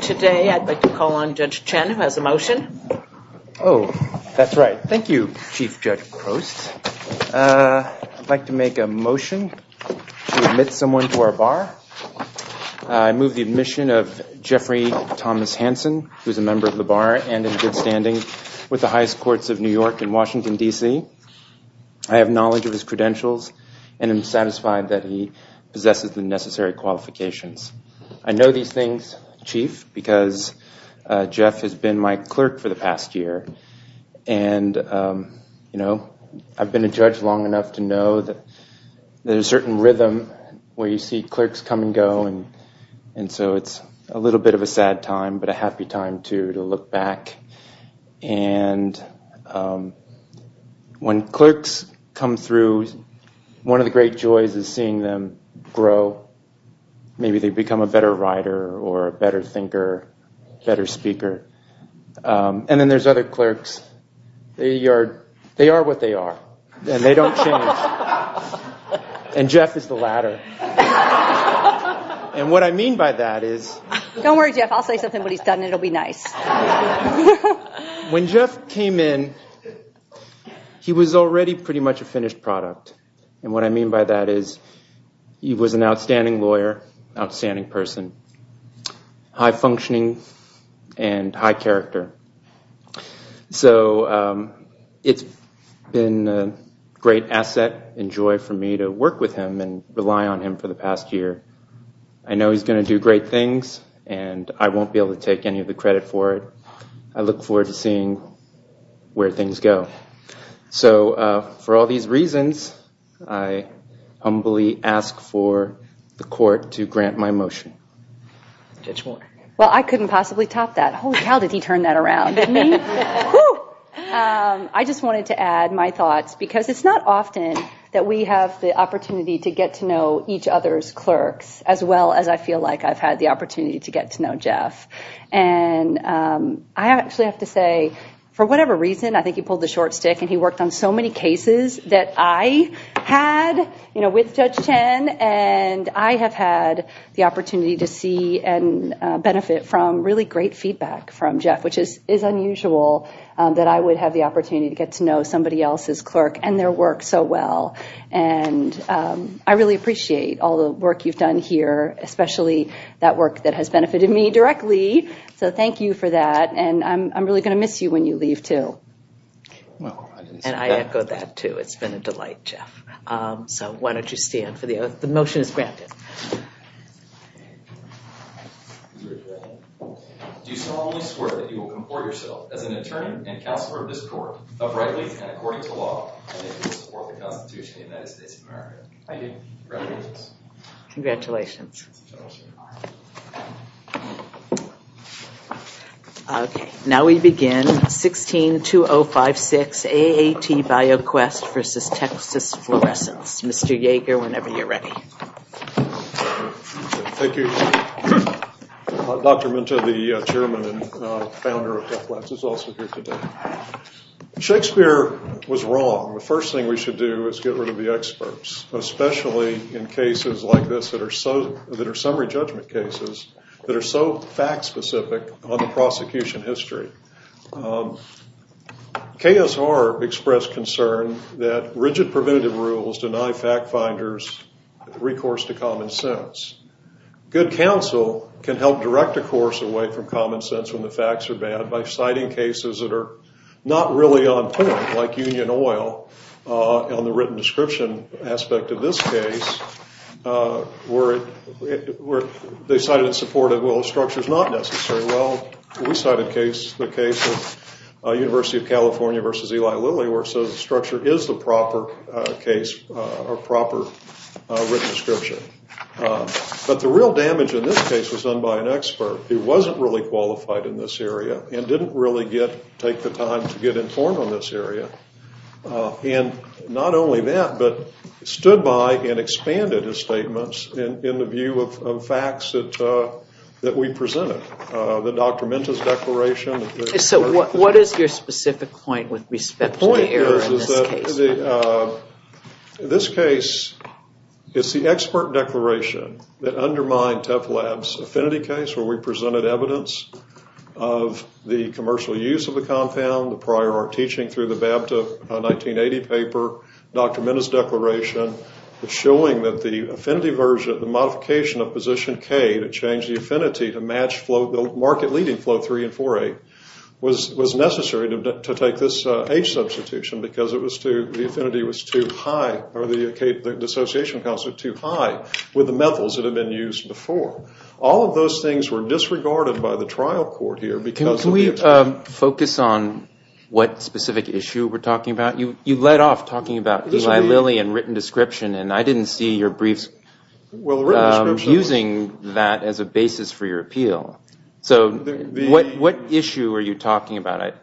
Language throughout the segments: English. Today I'd like to call on Judge Chen who has a motion. Oh, that's right. Thank you, Chief Judge Post. I'd like to make a motion to admit someone to our bar. I move the admission of Jeffrey Thomas Hansen, who is a member of the bar and in good standing with the highest courts of New York and Washington, DC. I have knowledge of his credentials and am satisfied that he possesses the necessary qualifications. I know these things, Chief, because Jeff has been my clerk for the past year and, you know, I've been a judge long enough to know that there's a certain rhythm where you see clerks come and go and so it's a little bit of a sad time but a happy time, too, to look back. And when clerks come through, one of the great joys is seeing them grow. Maybe they become a better writer or a better thinker, better speaker. And then there's other clerks. They are what they are and they don't change. And Jeff is the latter. And what I mean by that is... Don't worry, Jeff. I'll say something, but he's done it. It'll be nice. When Jeff came in, he was already pretty much a finished product. And what I mean by that is he was an outstanding lawyer, outstanding person, high functioning, and high character. So it's been a great asset and joy for me to work with him and rely on him for the past year. I know he's going to do great things and I won't be able to take any of the credit for it. I look forward to seeing where things go. So for all these reasons, I humbly ask for the court to grant my motion. Judge Warner. Well, I couldn't possibly top that. Holy cow, did he turn that around. I just wanted to add my thoughts because it's not often that we have the opportunity to get to know each other's clerks as well as I feel like I've had the opportunity to get to know Jeff. And I actually have to say, for whatever reason, I think he pulled the short stick and he worked on so many cases that I had with Judge Chen and I have had the opportunity to see and benefit from really great feedback from Jeff, which is unusual that I would have the opportunity to get to know somebody else's clerk and their work so well. And I really appreciate all the work you've done here, especially that work that has benefited me directly. So thank you for that. And I'm really going to miss you when you leave too. And I echo that too. It's been a delight, Jeff. So why don't you stand for the motion is granted. Do you solemnly swear that you will comport yourself as an attorney and counselor of this court to the law and support the Constitution of the United States of America? Congratulations. Now we begin. 16-2056, AAT BioQuest versus Texas Fluorescence. Mr. Yeager, whenever you're ready. Thank you. Dr. Minto, the chairman and founder of TechLabs is also here today. Shakespeare was wrong. The first thing we should do is get rid of the experts, especially in cases like this that are summary judgment cases that are so fact-specific on the prosecution history. KSR expressed concern that rigid preventative rules deny fact-finders recourse to common sense. Good counsel can help direct recourse away from common sense when the facts are bad by citing cases that are not really on point, like Union Oil on the written description aspect of this case, where they cited and supported, well, the structure's not necessary. Well, we cited the case of University of California versus Eli Lilly, where it says the structure is the proper case or proper written description. But the real damage in this case was done by an expert who wasn't really qualified in this area and didn't really take the time to get informed on this area. And not only that, but stood by and expanded his statements in the view of facts that we presented. The Dr. Minto's declaration. So what is your specific point with respect to the error in this case? The, this case is the expert declaration that undermined Teflab's affinity case, where we presented evidence of the commercial use of the compound, the prior art teaching through the BABTA 1980 paper, Dr. Minto's declaration, showing that the affinity version, the modification of position K to change the affinity to match flow, the market leading flow three and four eight, was necessary to take this H substitution because it was too, the affinity was too high, or the dissociation counts were too high with the methyls that had been used before. All of those things were disregarded by the trial court here because of the attack. Can we focus on what specific issue we're talking about? You led off talking about Eli Lilly and written description, and I didn't see your briefs using that as a basis for your appeal. So what issue are you talking about?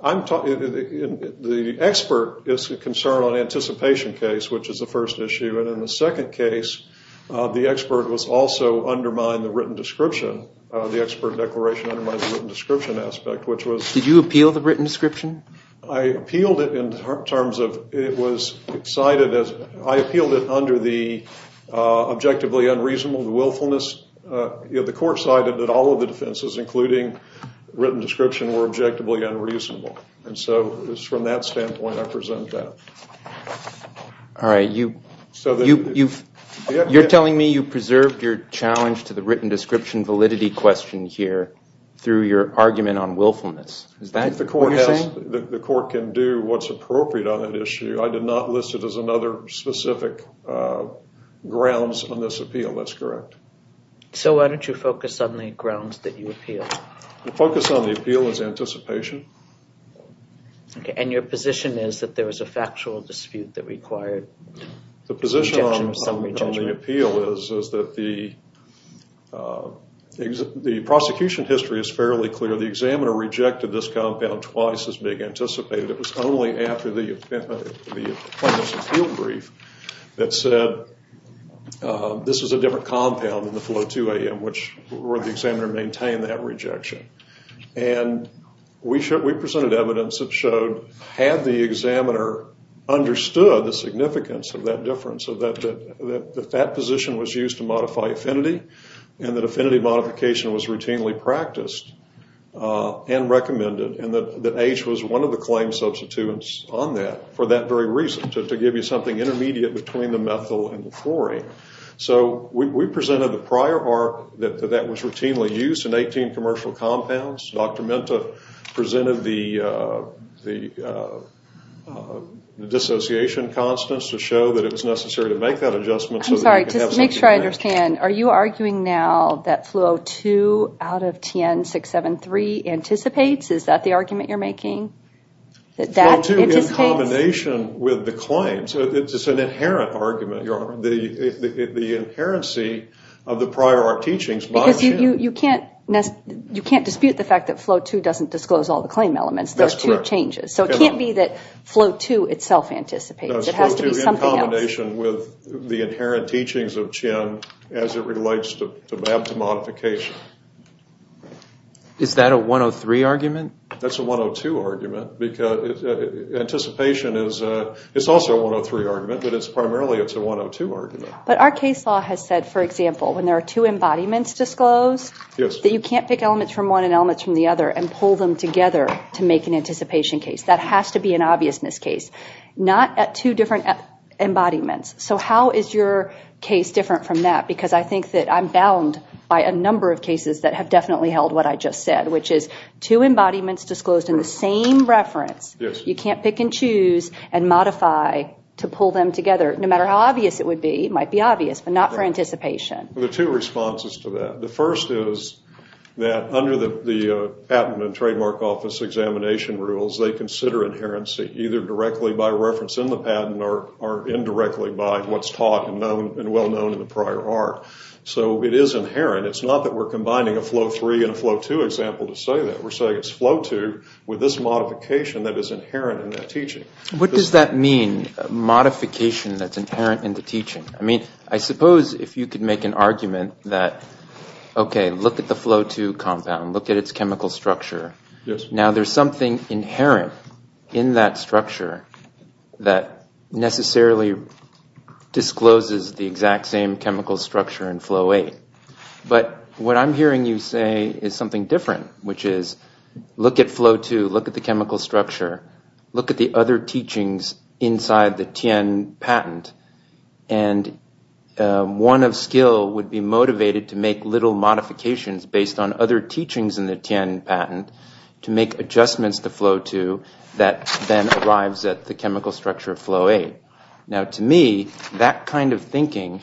I'm talking, the expert is a concern on anticipation case, which is the first issue, and in the second case, the expert was also undermined the written description, the expert declaration undermined the written description aspect, which was. Did you appeal the written description? I appealed it in terms of, it was cited as, I appealed it under the objectively unreasonable, the willfulness, the court cited it all including written description were objectively unreasonable. And so from that standpoint, I present that. All right. You're telling me you preserved your challenge to the written description validity question here through your argument on willfulness. Is that what you're saying? The court can do what's appropriate on that issue. I did not list it as another specific grounds on this appeal. That's correct. So why don't you focus on the grounds that you appeal? The focus on the appeal is anticipation. Okay. And your position is that there was a factual dispute that required the position on the appeal is that the prosecution history is fairly clear. The examiner rejected this compound twice as big anticipated. It was only after the field brief that said, this is a different compound than the flow to AM, which where the examiner maintained that rejection. And we presented evidence that showed, had the examiner understood the significance of that difference of that position was used to modify affinity and that affinity modification was routinely practiced and recommended. And that age was one of the claims substitutes on that for that very reason, to give you something intermediate between the methyl and the fluorine. So we presented the prior art that that was routinely used in 18 commercial compounds. Dr. Menta presented the dissociation constants to show that it was necessary to make that adjustment. Make sure I understand, are you arguing now that flow two out of 10, six, seven, three anticipates, is that the argument you're making? That that combination with the claims, it's just an inherent argument. The, the, the, the inherency of the prior art teachings. You can't, you can't dispute the fact that flow two doesn't disclose all the claim elements. There's two changes. So it can't be that flow two itself anticipates. It has to be something else. In combination with the inherent teachings of Chen as it relates to modification. Is that a 103 argument? That's a 102 argument because anticipation is a, it's also a 103 argument, but it's primarily, it's a 102 argument. But our case law has said, for example, when there are two embodiments disclosed. Yes. That you can't pick elements from one and elements from the other and pull them together to make an anticipation case. That has to be an obvious miscase. Not at two different embodiments. So how is your case different from that? Because I think that I'm bound by a number of cases that have definitely held what I just said, which is two embodiments disclosed in the same reference. Yes. You can't pick and choose and modify to pull them together. No matter how obvious it would be, it might be obvious, but not for anticipation. There are two responses to that. The first is that under the patent and trademark office examination rules, they consider inherency either directly by reference in the patent or indirectly by what's taught and well known in the prior art. So it is inherent. It's not that we're combining a flow three and a flow two example to say that. We're saying it's flow two with this modification that is inherent in that teaching. What does that mean, modification that's inherent in the teaching? I mean, I suppose if you could make an argument that, OK, look at the flow two compound, look at its chemical structure. Yes. Now there's something inherent in that structure that necessarily discloses the exact same chemical structure in flow eight. But what I'm hearing you say is something different, which is look at flow two, look at the chemical structure, look at the other teachings inside the Tian patent. And one of skill would be motivated to make little modifications based on other teachings in the Tian patent to make adjustments to flow two that then arrives at the chemical structure of flow eight. Now to me, that kind of thinking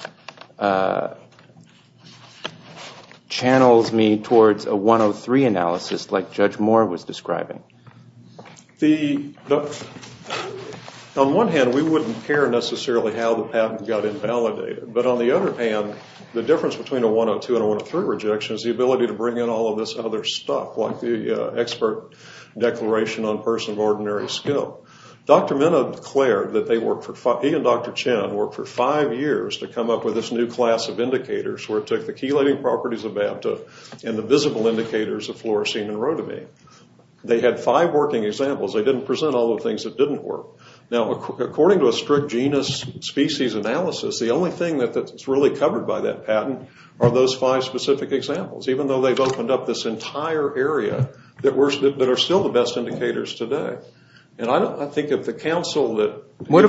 channels me towards a 103 analysis like Judge Moore was describing. On one hand, we wouldn't care necessarily how the patent got invalidated. But on the other hand, the difference between a 102 and a 103 rejection is the ability to bring in all of this other stuff, like the expert declaration on person of ordinary skill. Dr. Minow declared that he and Dr. Chen worked for five years to come up with this new class of indicators where it took the chelating properties of BAPTA and the visible indicators of fluorescein and rhodamine. They had five working examples. They didn't present all the things that didn't work. Now according to a strict genus species analysis, the only thing that's really covered by that patent are those five specific examples, even though they've opened up this entire area that are still the best indicators today. And I think if the council that... What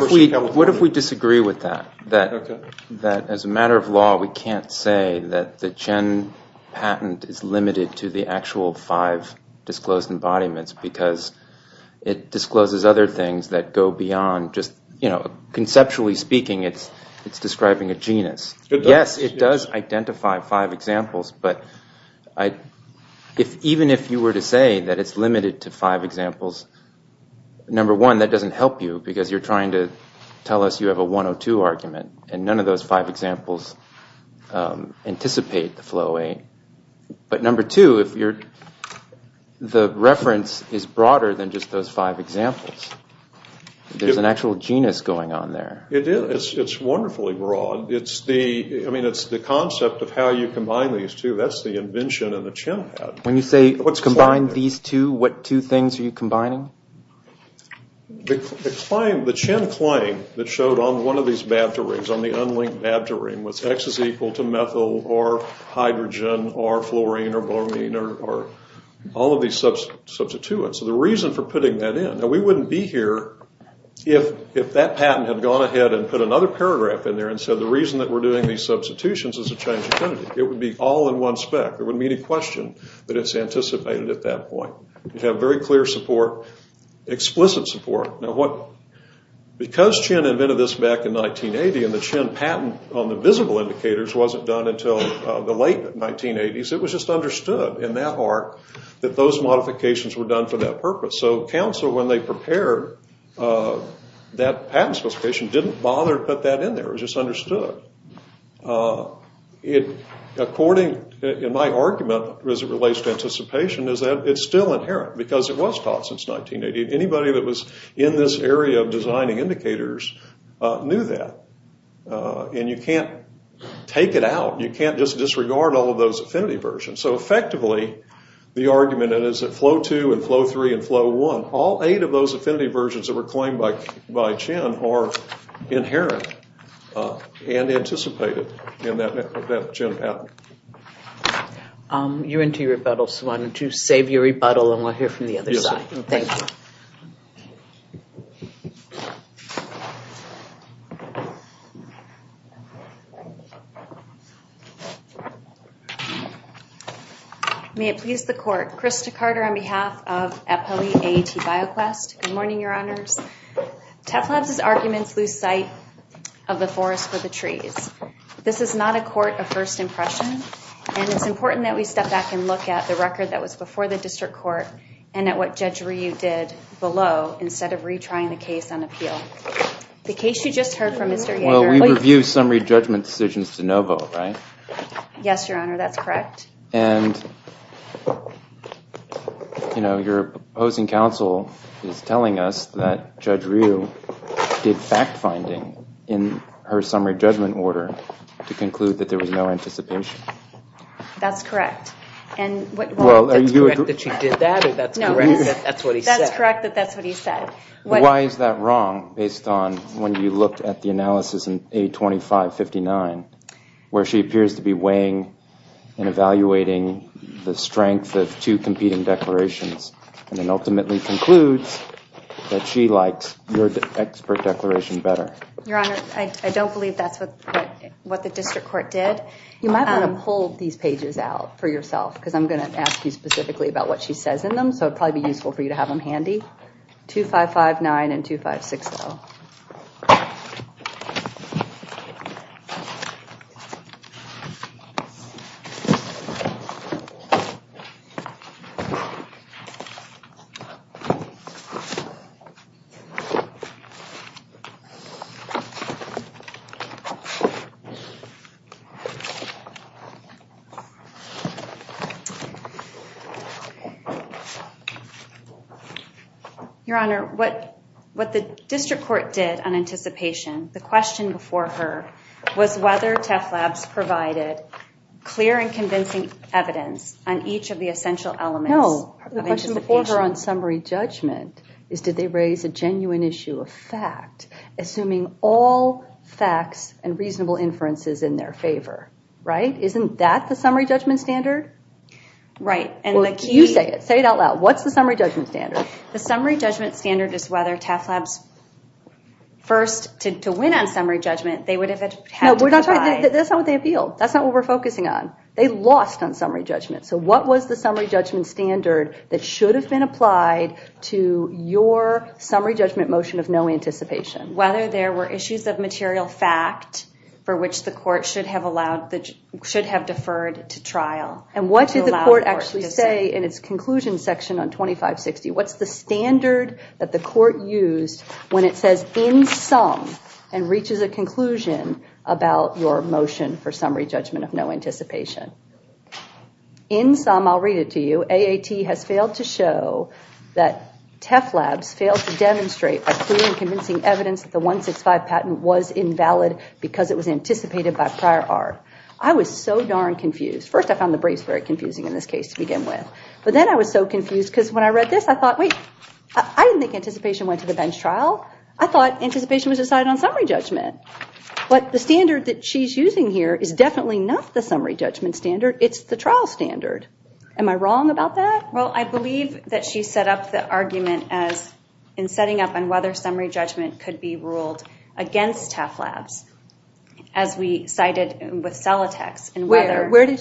if we disagree with that? That as a matter of law, we can't say that the Chen patent is limited to the actual five disclosed embodiments because it discloses other things that go beyond just... Conceptually speaking, it's describing a genus. Yes, it does identify five examples. But even if you were to say that it's limited to five examples, number one, that doesn't help you because you're trying to tell us you have a 102 argument and none of those five examples anticipate the flow rate. But number two, if you're... The reference is broader than just those five examples. There's an actual genus going on there. It is. It's wonderfully broad. It's the... I mean, it's the concept of how you combine these two. That's the invention of the Chen patent. When you say combine these two, what two things are you combining? The Chen claim that showed on one of these babta rings, on the unlinked babta ring, x is equal to methyl or hydrogen or fluorine or bromine or all of these substituents. So the reason for putting that in... Now, we wouldn't be here if that patent had gone ahead and put another paragraph in there and said, the reason that we're doing these substitutions is to change identity. It would be all in one spec. There wouldn't be any question that it's anticipated at that point. You'd have very clear support, explicit support. Now, because Chen invented this back in 1980 and the Chen patent on the visible indicators wasn't done until the late 1980s, it was just understood in that arc that those modifications were done for that purpose. So council, when they prepared that patent substitution, didn't bother to put that in there. It was just understood. According, in my argument, as it relates to anticipation, is that it's still inherent because it was taught since 1980. Anybody that was in this area of designing indicators knew that, and you can't take it out. You can't just disregard all of those affinity versions. So effectively, the argument is that flow two and flow three and flow one, all eight of those affinity versions that were claimed by Chen are inherent and anticipated in that Chen patent. You're into your rebuttal, so why don't you save your rebuttal and we'll hear from the other side. Thank you. Thank you. May it please the court, Krista Carter on behalf of Eppeli AET BioQuest. Good morning, your honors. TEF Labs' arguments lose sight of the forest for the trees. This is not a court of first impression, and it's important that we step back and look at the record that was before the district court and at what Judge Ryu did below instead of retrying the case on appeal. The case you just heard from Mr. Yeager. Well, we review summary judgment decisions to no vote, right? Yes, your honor, that's correct. And your opposing counsel is telling us that Judge Ryu did fact-finding in her summary judgment order to conclude that there was no anticipation. That's correct, and what... Well, are you... That's correct that she did that, or that's correct that that's what he said? That's correct that that's what he said. Why is that wrong based on when you looked at the analysis in A2559, where she appears to be weighing and evaluating the strength of two competing declarations and then ultimately concludes that she likes your expert declaration better? Your honor, I don't believe that's what the district court did. You might want to pull these pages out for yourself because I'm going to ask you specifically about what she says in them, so it'd probably be useful for you to have them handy. A2559 and A2560. Your honor, what the district court did on anticipation, the question before her, was whether TEFLabs provided clear and convincing evidence on each of the essential elements... No, the question before her on summary judgment is did they raise a genuine issue, a fact, assuming all facts and reasonable inferences in their favor, right? Isn't that the summary judgment standard? Right, and the key... You say it, say it out loud. What's the summary judgment standard? The summary judgment standard is whether TEFLabs, first, to win on summary judgment, they would have had to provide... No, that's not what they appealed. That's not what we're focusing on. They lost on summary judgment. So what was the summary judgment standard that should have been applied to your summary judgment motion of no anticipation? Whether there were issues of material fact for which the court should have allowed, should have deferred to trial. And what did the court actually say in its conclusion section on 2560? What's the standard that the court used when it says in sum and reaches a conclusion about your motion for summary judgment of no anticipation? In sum, I'll read it to you. AAT has failed to show that TEFLabs failed to demonstrate a clear and convincing evidence that the 165 patent was invalid because it was anticipated by prior art. I was so darn confused. First, I found the briefs very confusing in this case to begin with. But then I was so confused because when I read this, I thought, wait, I didn't think anticipation went to the bench trial. I thought anticipation was decided on summary judgment. But the standard that she's using here is definitely not the summary judgment standard. It's the trial standard. Am I wrong about that? Well, I believe that she set up the argument in setting up on whether summary judgment could be ruled against TEFLabs as we cited with Celatex and whether- Where did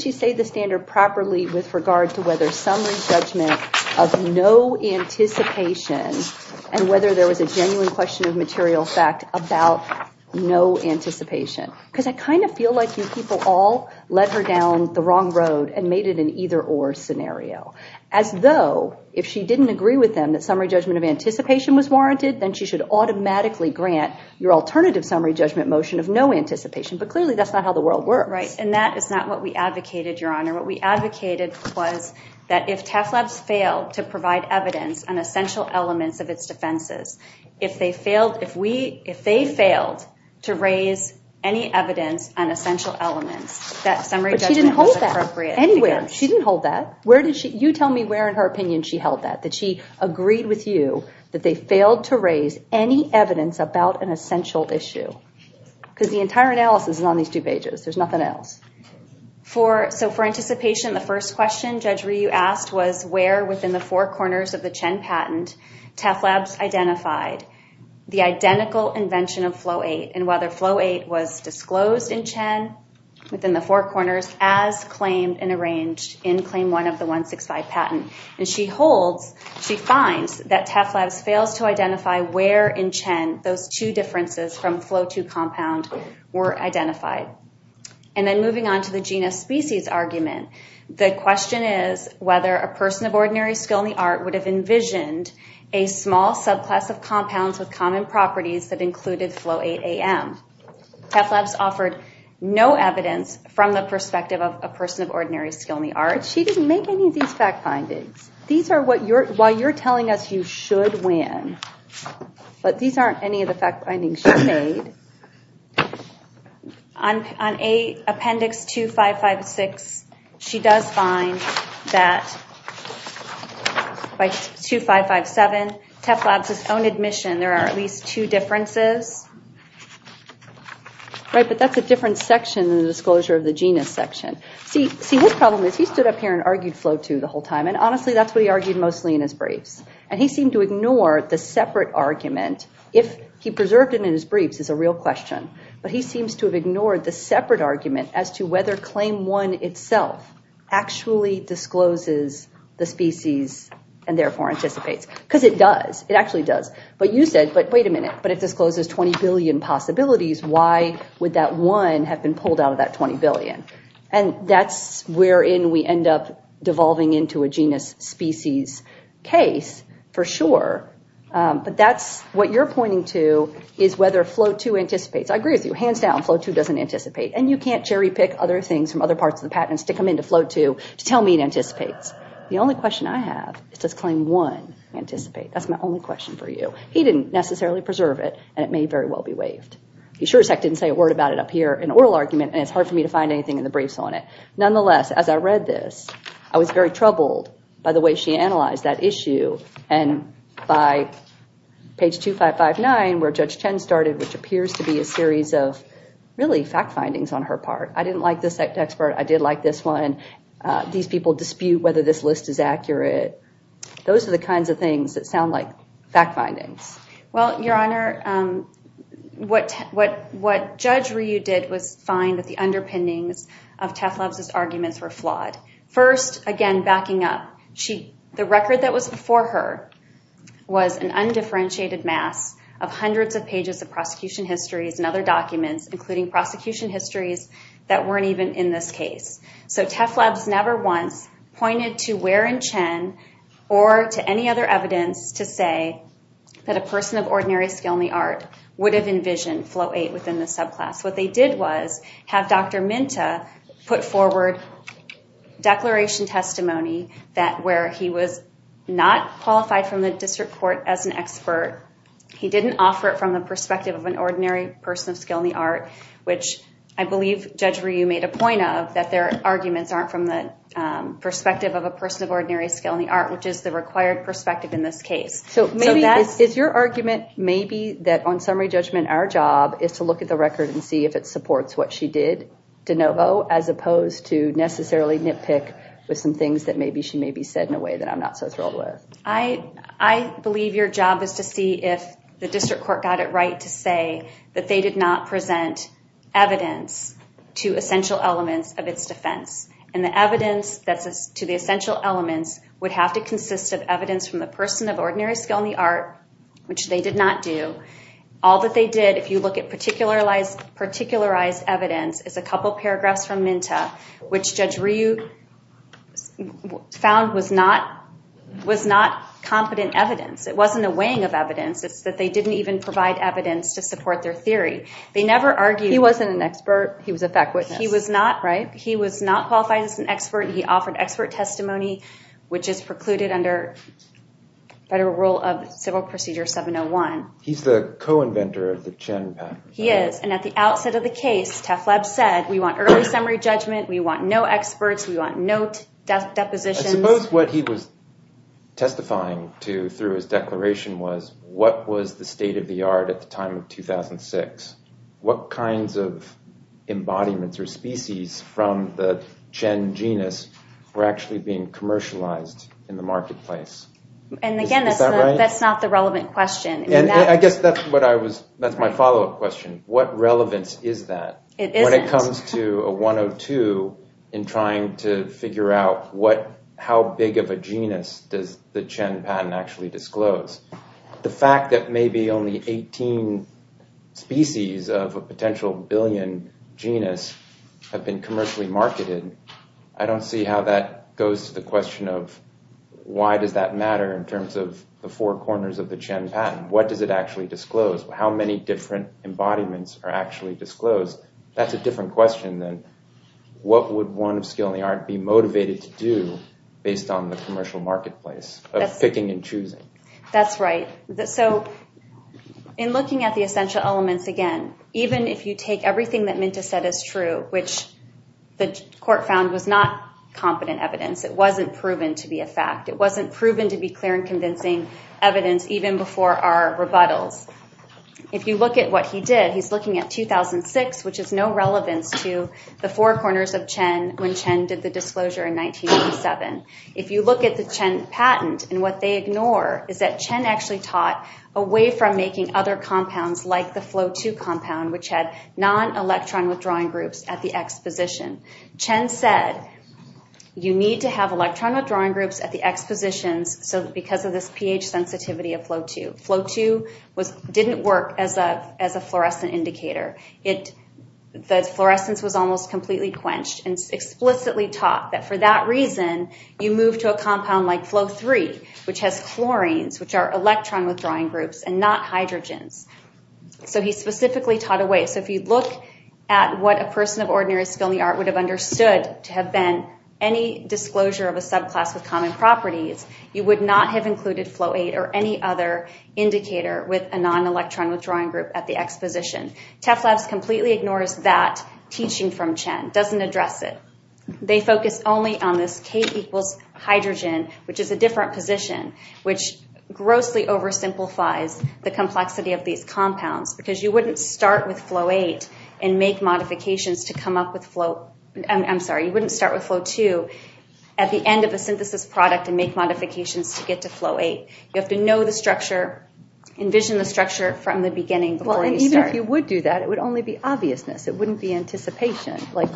she say the standard properly with regard to whether summary judgment of no anticipation and whether there was a genuine question of material fact about no anticipation? Because I kind of feel like you people all led her down the wrong road and made it an either-or scenario. As though if she didn't agree with them that summary judgment of anticipation was warranted, then she should automatically grant your alternative summary judgment motion of no anticipation. But clearly, that's not how the world works. Right, and that is not what we advocated, Your Honor. What we advocated was that if TEFLabs failed to provide evidence on essential elements of its defenses, if they failed to raise any evidence on essential elements, that summary judgment was appropriate. Anyway, she didn't hold that. You tell me where in her opinion she held that, that she agreed with you that they failed to raise any evidence about an essential issue. Because the entire analysis is on these two pages. There's nothing else. For, so for anticipation, the first question Judge Ryu asked was where within the four corners of the Chen patent TEFLabs identified the identical invention of Flo-8 and whether Flo-8 was disclosed in Chen within the four corners as claimed and arranged in claim one of the 165 patent. And she holds, she finds that TEFLabs fails to identify where in Chen those two differences from Flo-2 compound were identified. And then moving on to the genus species argument, the question is whether a person of ordinary skill in the art would have envisioned a small subclass of compounds with common properties that included Flo-8-AM. TEFLabs offered no evidence from the perspective of a person of ordinary skill in the art. She didn't make any of these fact findings. These are what you're, while you're telling us you should win, but these aren't any of the fact findings she made. On appendix 2556, she does find that by 2557, TEFLabs' own admission, there are at least two differences. Right, but that's a different section in the disclosure of the genus section. See, his problem is he stood up here and argued Flo-2 the whole time. And honestly, that's what he argued mostly in his briefs. And he seemed to ignore the separate argument if he preserved it in his briefs as a real thing. But he seems to have ignored the separate argument as to whether claim one itself actually discloses the species and therefore anticipates. Because it does. It actually does. But you said, but wait a minute, but if discloses 20 billion possibilities, why would that one have been pulled out of that 20 billion? And that's wherein we end up devolving into a genus species case for sure. But that's what you're pointing to is whether Flo-2 anticipates. I agree with you. Hands down, Flo-2 doesn't anticipate. And you can't cherry pick other things from other parts of the patent and stick them into Flo-2 to tell me it anticipates. The only question I have is does claim one anticipate? That's my only question for you. He didn't necessarily preserve it and it may very well be waived. He sure as heck didn't say a word about it up here in oral argument and it's hard for me to find anything in the briefs on it. Nonetheless, as I read this, I was very troubled by the way she analyzed that issue. And by page 2559, where Judge Chen started, which appears to be a series of really fact findings on her part. I didn't like this expert. I did like this one. These people dispute whether this list is accurate. Those are the kinds of things that sound like fact findings. Well, Your Honor, what Judge Ryu did was find that the underpinnings of Teflab's arguments were flawed. First, again, backing up, the record that was before her was an undifferentiated mass of hundreds of pages of prosecution histories and other documents, including prosecution histories that weren't even in this case. So Teflab's never once pointed to Ware and Chen or to any other evidence to say that a person of ordinary skill in the art would have envisioned Float 8 within the subclass. What they did was have Dr. Minta put forward declaration testimony that where he was not qualified from the district court as an expert, he didn't offer it from the perspective of an ordinary person of skill in the art, which I believe Judge Ryu made a point of that their arguments aren't from the perspective of a person of ordinary skill in the art, which is the required perspective in this case. So is your argument maybe that on summary judgment our job is to look at the record and see if it supports what she did de novo as opposed to necessarily nitpick with some things that maybe she may be said in a way that I'm not so thrilled with? I believe your job is to see if the district court got it right to say that they did not present evidence to essential elements of its defense and the evidence that's to the essential elements would have to consist of evidence from the person of ordinary skill in the art, which they did not do. All that they did, if you look at particularized evidence is a couple of paragraphs from Minta which Judge Ryu found was not competent evidence. It wasn't a weighing of evidence. It's that they didn't even provide evidence to support their theory. They never argued. He wasn't an expert. He was a fact witness. He was not, right? He was not qualified as an expert. He offered expert testimony, which is precluded under federal rule of civil procedure 701. He's the co-inventor of the Chen pattern. He is. And at the outset of the case, TEFLEB said, we want early summary judgment. We want no experts. We want no depositions. Suppose what he was testifying to through his declaration was, what was the state of the art at the time of 2006? What kinds of embodiments or species from the Chen genus were actually being commercialized in the marketplace? And again, that's not the relevant question. I guess that's what I was, that's my follow-up question. What relevance is that? It isn't. When it comes to a 102 in trying to figure out how big of a genus does the Chen pattern actually disclose, the fact that maybe only 18 species of a potential billion genus have been commercially marketed, I don't see how that goes to the question of, why does that matter in terms of the four corners of the Chen pattern? What does it actually disclose? How many different embodiments are actually disclosed? That's a different question than, what would one of skill and the art be motivated to do based on the commercial marketplace of picking and choosing? That's right. So in looking at the essential elements, again, even if you take everything that Minta said is true, which the court found was not competent evidence, it wasn't proven to be a fact, it wasn't proven to be clear and convincing evidence even before our rebuttals. If you look at what he did, he's looking at 2006, which has no relevance to the four corners of Chen when Chen did the disclosure in 1987. If you look at the Chen patent and what they ignore is that Chen actually taught away from making other compounds like the Flo2 compound, which had non-electron withdrawing groups at the X position. Chen said, you need to have electron withdrawing groups at the X positions so because of this pH sensitivity of Flo2. Flo2 didn't work as a fluorescent indicator. The fluorescence was almost completely quenched and explicitly taught that for that reason, you move to a compound like Flo3, which has chlorines, which are electron withdrawing groups and not hydrogens. So he specifically taught away. So if you look at what a person of ordinary skill in the art would have understood to have been any disclosure of a subclass with common properties, you would not have included Flo8 or any other indicator with a non-electron withdrawing group at the X position. TEFLabs completely ignores that teaching from Chen, doesn't address it. They focus only on this K equals hydrogen, which is a different position, which grossly oversimplifies the complexity of these compounds because you wouldn't start with Flo8 and make modifications to come up with Flo... I'm sorry, you wouldn't start with Flo2 at the end of a synthesis product and make modifications to get to Flo8. You have to know the structure, envision the structure from the beginning before you start. Even if you would do that, it would only be obviousness. It wouldn't be anticipation like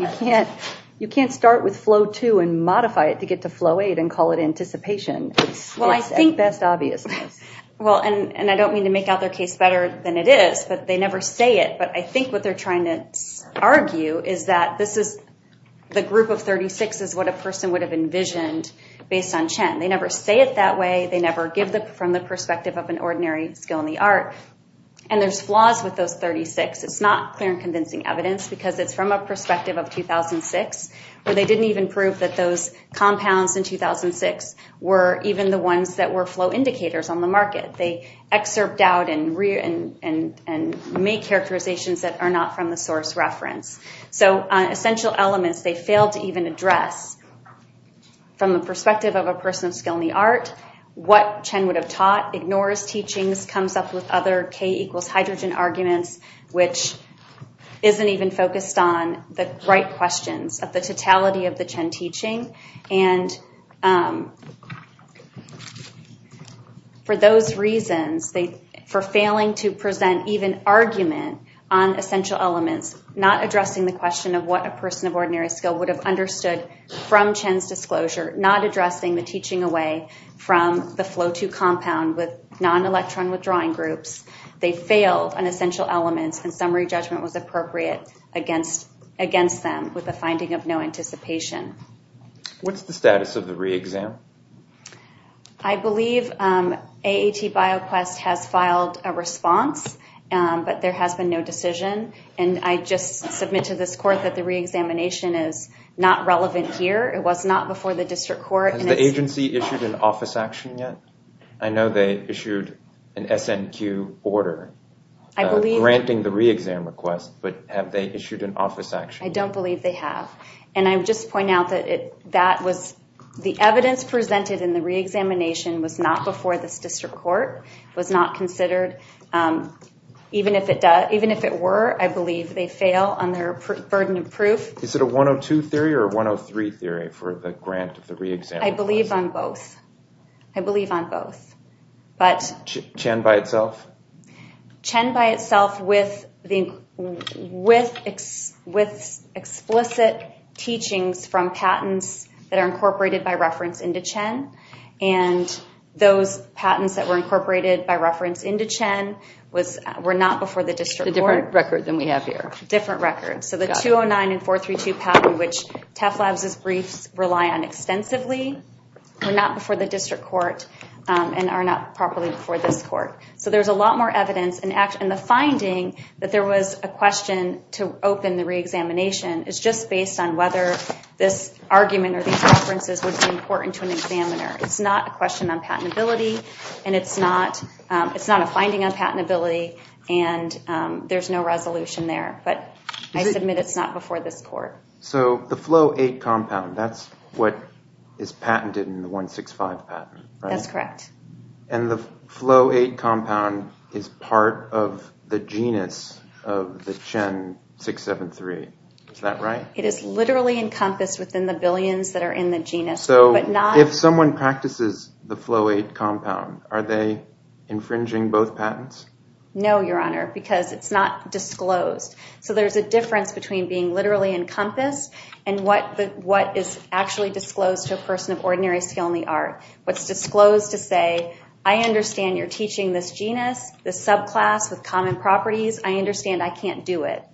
you can't start with Flo2 and modify it to get to Flo8 and call it anticipation. Well, I think best obviousness. Well, and I don't mean to make out their case better than it is, but they never say it. But I think what they're trying to argue is that this is the group of 36 is what a person would have envisioned based on Chen. They never say it that way. They never give them from the perspective of an ordinary skill in the art. And there's flaws with those 36. It's not clear and convincing evidence because it's from a perspective of 2006 where they didn't even prove that those compounds in 2006 were even the ones that were flow indicators on the market. They excerpt out and make characterizations that are not from the source reference. So essential elements they failed to even address from the perspective of a person of skill in the art. What Chen would have taught ignores teachings, comes up with other K equals hydrogen arguments, which isn't even focused on the right questions of the totality of the Chen teaching. And for those reasons, for failing to present even argument on essential elements, not addressing the question of what a person of ordinary skill would have understood from Chen's disclosure, not addressing the teaching away from the flow to compound with non-electron withdrawing groups. They failed on essential elements and summary judgment was appropriate against them with a finding of no anticipation. What's the status of the re-exam? I believe AAT BioQuest has filed a response, but there has been no decision. And I just submit to this court that the re-examination is not relevant here. It was not before the district court. Has the agency issued an office action yet? I know they issued an SNQ order granting the re-exam request, but have they issued an office action? I don't believe they have. And I just point out that the evidence presented in the re-examination was not before this district court, was not considered. Even if it were, I believe they fail on their burden of proof. Is it a 102 theory or 103 theory for the grant of the re-exam? I believe on both. I believe on both. CHEN by itself? CHEN by itself with explicit teachings from patents that are incorporated by reference into CHEN. And those patents that were incorporated by reference into CHEN were not before the district court. A different record than we have here. Different record. So the 209 and 432 patent, which TEFLabs' briefs rely on extensively, were not before the district court and are not properly before this court. So there's a lot more evidence and the finding that there was a question to open the re-examination is just based on whether this argument or these references would be important to an examiner. It's not a question on patentability and it's not a finding on patentability and there's no resolution there. But I submit it's not before this court. So the flow eight compound, that's what is patented in the 165 patent, right? That's correct. And the flow eight compound is part of the genus of the CHEN 673. Is that right? It is literally encompassed within the billions that are in the genus. So if someone practices the flow eight compound, are they infringing both patents? No, Your Honor, because it's not disclosed. So there's a difference between being literally encompassed and what is actually disclosed to a person of ordinary skill in the art. What's disclosed to say, I understand you're teaching this genus, this subclass with common properties. I understand I can't do it.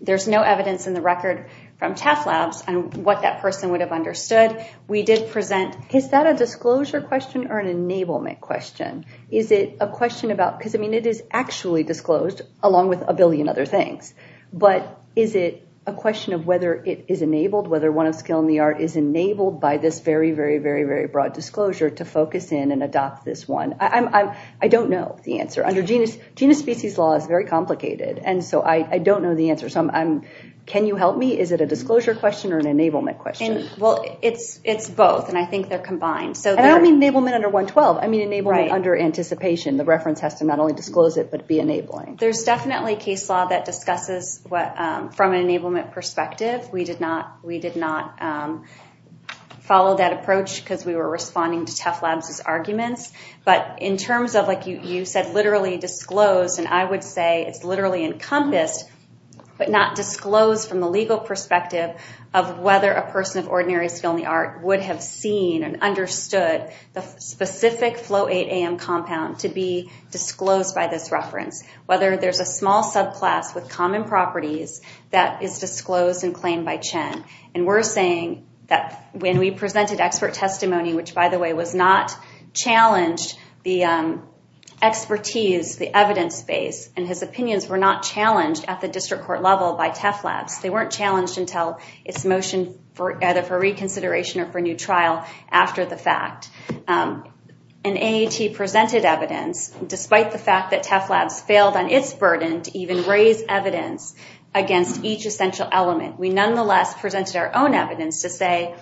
There's no evidence in the record from TEFLabs on what that person would have understood. We did present, is that a disclosure question or an enablement question? Is it a question about, because I mean, it is actually disclosed along with a billion other things. But is it a question of whether it is enabled, whether one of skill in the art is enabled by this very, very, very, very broad disclosure to focus in and adopt this one? I don't know the answer. Under genus species law is very complicated. And so I don't know the answer. So can you help me? Is it a disclosure question or an enablement question? Well, it's both. And I think they're combined. So I don't mean enablement under 112. I mean, enablement under anticipation. The reference has to not only disclose it, but be enabling. There's definitely case law that discusses what from an enablement perspective. We did not follow that approach because we were responding to TEFLabs' arguments. But in terms of like you said, literally disclosed, and I would say it's literally encompassed, but not disclosed from the legal perspective of whether a person of ordinary skill in the art would have seen and understood the specific flow 8AM compound to be disclosed by this reference. Whether there's a small subclass with common properties that is disclosed and claimed by Chen. And we're saying that when we presented expert testimony, which by the way, was not challenged, the expertise, the evidence base, and his opinions were not challenged at the district court level by TEFLabs. They weren't challenged until its motion for either for reconsideration or for new trial after the fact. And AAT presented evidence despite the fact that TEFLabs failed on its burden to even raise evidence against each essential element. We nonetheless presented our own evidence to say,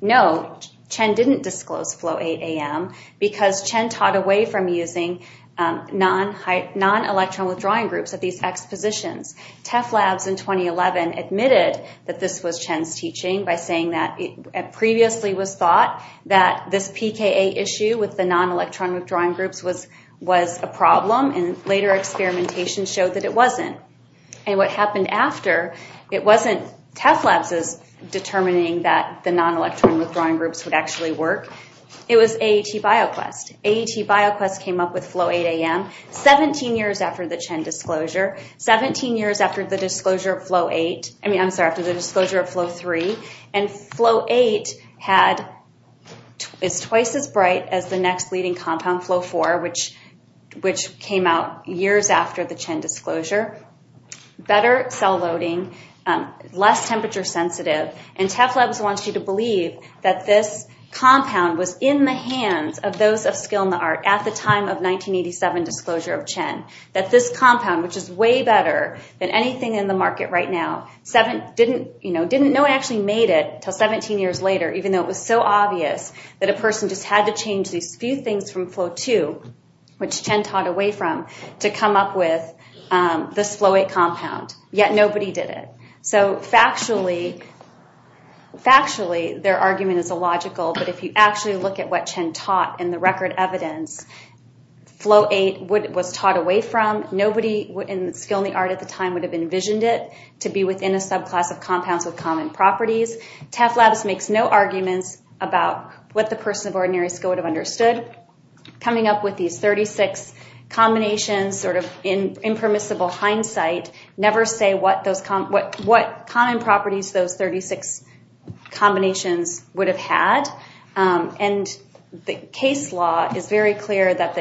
no, Chen didn't disclose flow 8AM because Chen taught away from using non-electron withdrawing groups at these expositions. TEFLabs in 2011 admitted that this was Chen's teaching by saying that it previously was thought that this PKA issue with the non-electron withdrawing groups was a problem and later experimentation showed that it wasn't. And what happened after, it wasn't TEFLabs' determining that the non-electron withdrawing groups would actually work. It was AAT BioQuest. AAT BioQuest came up with flow 8AM 17 years after the Chen disclosure, 17 years after the disclosure of flow 8, I mean, I'm sorry, after the disclosure of flow 3. And flow 8 had, is twice as bright as the next leading compound flow 4, which came out years after the Chen disclosure, better cell loading, less temperature sensitive. And TEFLabs wants you to believe that this compound was in the hands of those of skill in the art at the time of 1987 disclosure of Chen, that this compound, which is way better than anything in the market right now, didn't know it actually made it till 17 years later, even though it was so obvious that a person just had to change these few things from flow 2, which Chen taught away from, to come up with this flow 8 compound, yet nobody did it. So factually, factually, their argument is illogical, but if you actually look at what Chen taught in the record evidence, flow 8 was taught away from, nobody in the skill in the art at the time would have envisioned it to be within a subclass of compounds with common properties. TEFLabs makes no arguments about what the person of ordinary skill would have understood. Coming up with these 36 combinations, sort of in impermissible hindsight, never say what common properties those 36 combinations would have had. And the case law is very clear that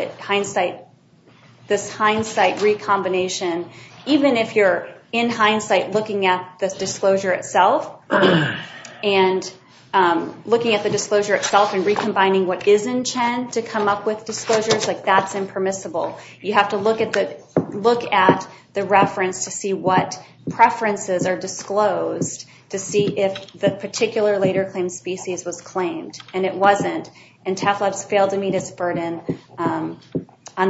this hindsight recombination, even if you're in hindsight looking at the disclosure itself and looking at the disclosure itself and recombining what is in Chen to come up with disclosures, like that's impermissible. You have to look at the reference to see what preferences are disclosed to see if the particular later claim species was claimed. And it wasn't. And TEFLabs failed to meet its burden on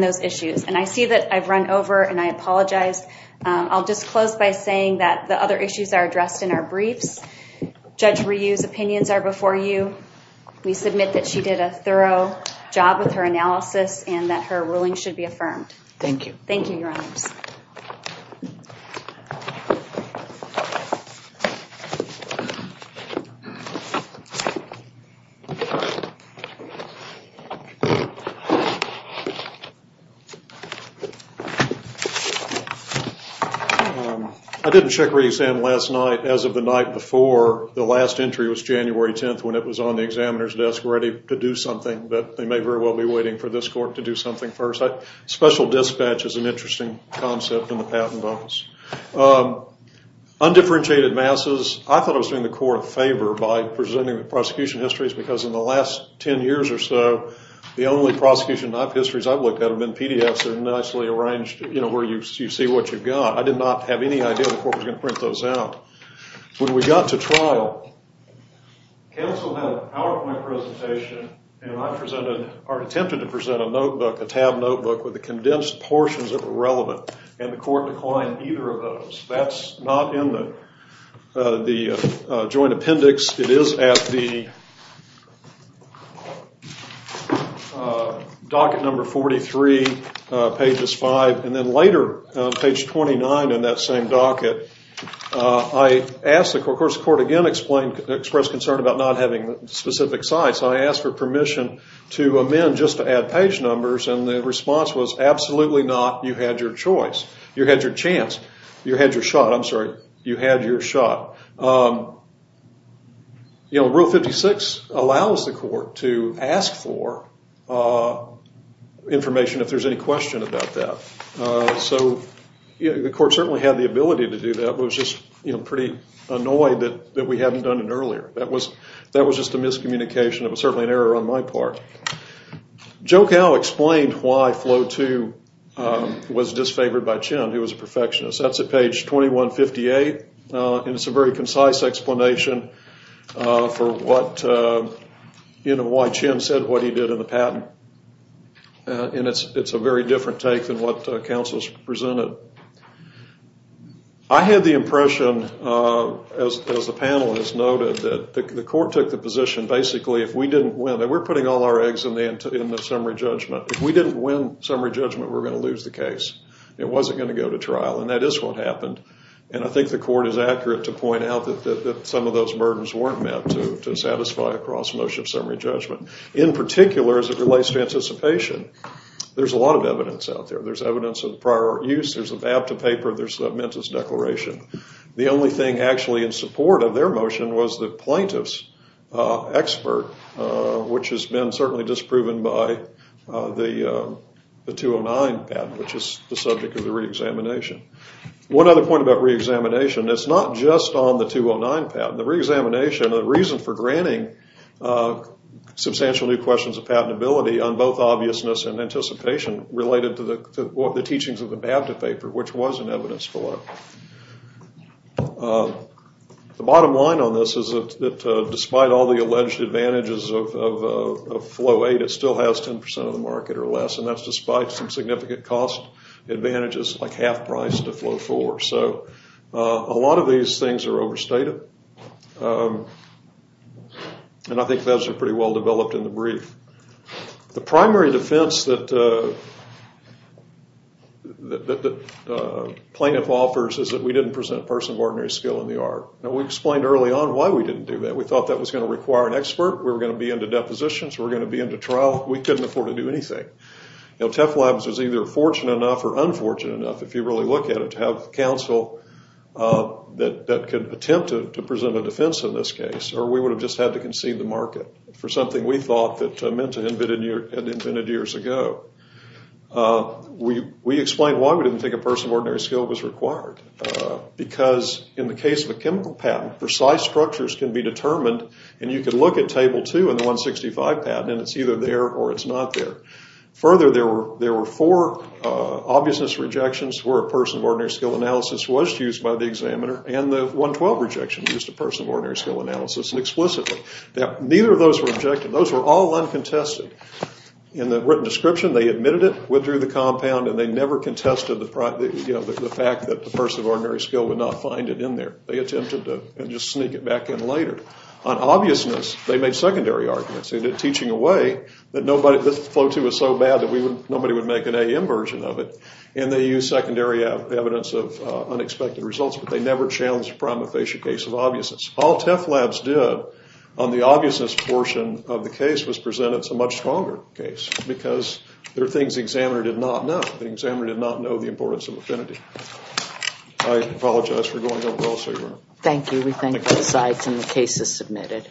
those issues. And I see that I've run over and I apologize. I'll just close by saying that the other issues are addressed in our briefs. Judge Ryu's opinions are before you. We submit that she did a thorough job with her analysis and that her ruling should be affirmed. Thank you. Thank you, Your Honors. I didn't check her exam last night. As of the night before, the last entry was January 10th when it was on the examiner's desk ready to do something. But they may very well be waiting for this court to do something first. Special dispatch is an interesting concept in the Patent Office. Undifferentiated masses. I thought I was doing the court a favor by presenting the prosecution histories because in the last 10 years or so, the only prosecution knife histories I've looked at have been PDFs that are nicely arranged, you know, where you see what you've got. I did not have any idea the court was going to print those out. When we got to trial, counsel had a PowerPoint presentation and I presented, or attempted to present a notebook, a tabbed notebook with the condensed portions that were relevant and the court declined either of those. That's not in the joint appendix. It is at the docket number 43, pages 5, and then later, page 29 in that same docket, I asked the court, the court again expressed concern about not having specific sites. I asked for permission to amend just to add page numbers and the response was absolutely not. You had your choice. You had your chance. You had your shot. I'm sorry. You had your shot. Rule 56 allows the court to ask for information if there's any question about that. So the court certainly had the ability to do that but was just pretty annoyed that we hadn't done it earlier. That was just a miscommunication. It was certainly an error on my part. Joe Cowe explained why Flow II was disfavored by Chin, who was a perfectionist. That's at page 2158 and it's a very concise explanation for why Chin said what he did in the patent and it's a very different take than what counsel's presented. I had the impression as the panel has noted that the court took the position basically if we didn't win and we're putting all our eggs in the summary judgment. If we didn't win summary judgment we're going to lose the case. It wasn't going to go to trial and that is what happened and I think the court is accurate to point out that some of those burdens weren't meant to satisfy a cross motion summary judgment. In particular as it relates to anticipation there's a lot of evidence out there. There's evidence of prior use. There's a BAVTA paper. There's a MENTUS declaration. The only thing actually in support of their motion was the plaintiff's expert which has been certainly disproven by the 209 patent which is the subject of the reexamination. One other point about reexamination it's not just on the 209 patent. The reexamination, the reason for granting substantial new questions of patentability on both obviousness and anticipation related to the teachings of the BAVTA paper which was in evidence below. The bottom line on this is that despite all the alleged advantages of flow 8 it still has 10% of the market or less and that's despite some significant cost advantages like half price to flow 4. So a lot of these things are overstated and I think those are pretty well developed in the brief. The primary defense that the plaintiff offers is that we didn't present a person of ordinary skill in the art. Now we explained early on why we didn't do that. We thought that was going to require an expert. We were going to be into depositions. We're going to be into trial. We couldn't afford to do anything. TEFLabs was either fortunate enough or unfortunate enough if you really look at it to have counsel that could attempt to present a defense in this case or we would have just had to concede the market for something we thought that MENTA had invented years ago. We explained why we didn't think a person of ordinary skill was required because in the case of a chemical patent precise structures can be determined and you can look at table 2 in the 165 patent and it's either there or it's not there. Further there were four obviousness rejections where a person of ordinary skill analysis was used by the examiner and the 112 rejection used a person of ordinary skill analysis explicitly. Neither of those were objective. Those were all uncontested. In the written description they admitted it, withdrew the compound and they never contested the fact that the person of ordinary skill would not find it in there. They attempted to just sneak it back in later. On obviousness they made secondary arguments and did teaching away that this flow too was so bad that nobody would make an AM version of it and they used secondary evidence of unexpected results but they never challenged a prima facie case of obviousness. All TEFLabs did on the obviousness portion of the case was present. It's a much stronger case because there are things the examiner did not know. The examiner did not know the importance of affinity. I apologize for going over all of your work. Thank you. We thank both sides and the case is submitted.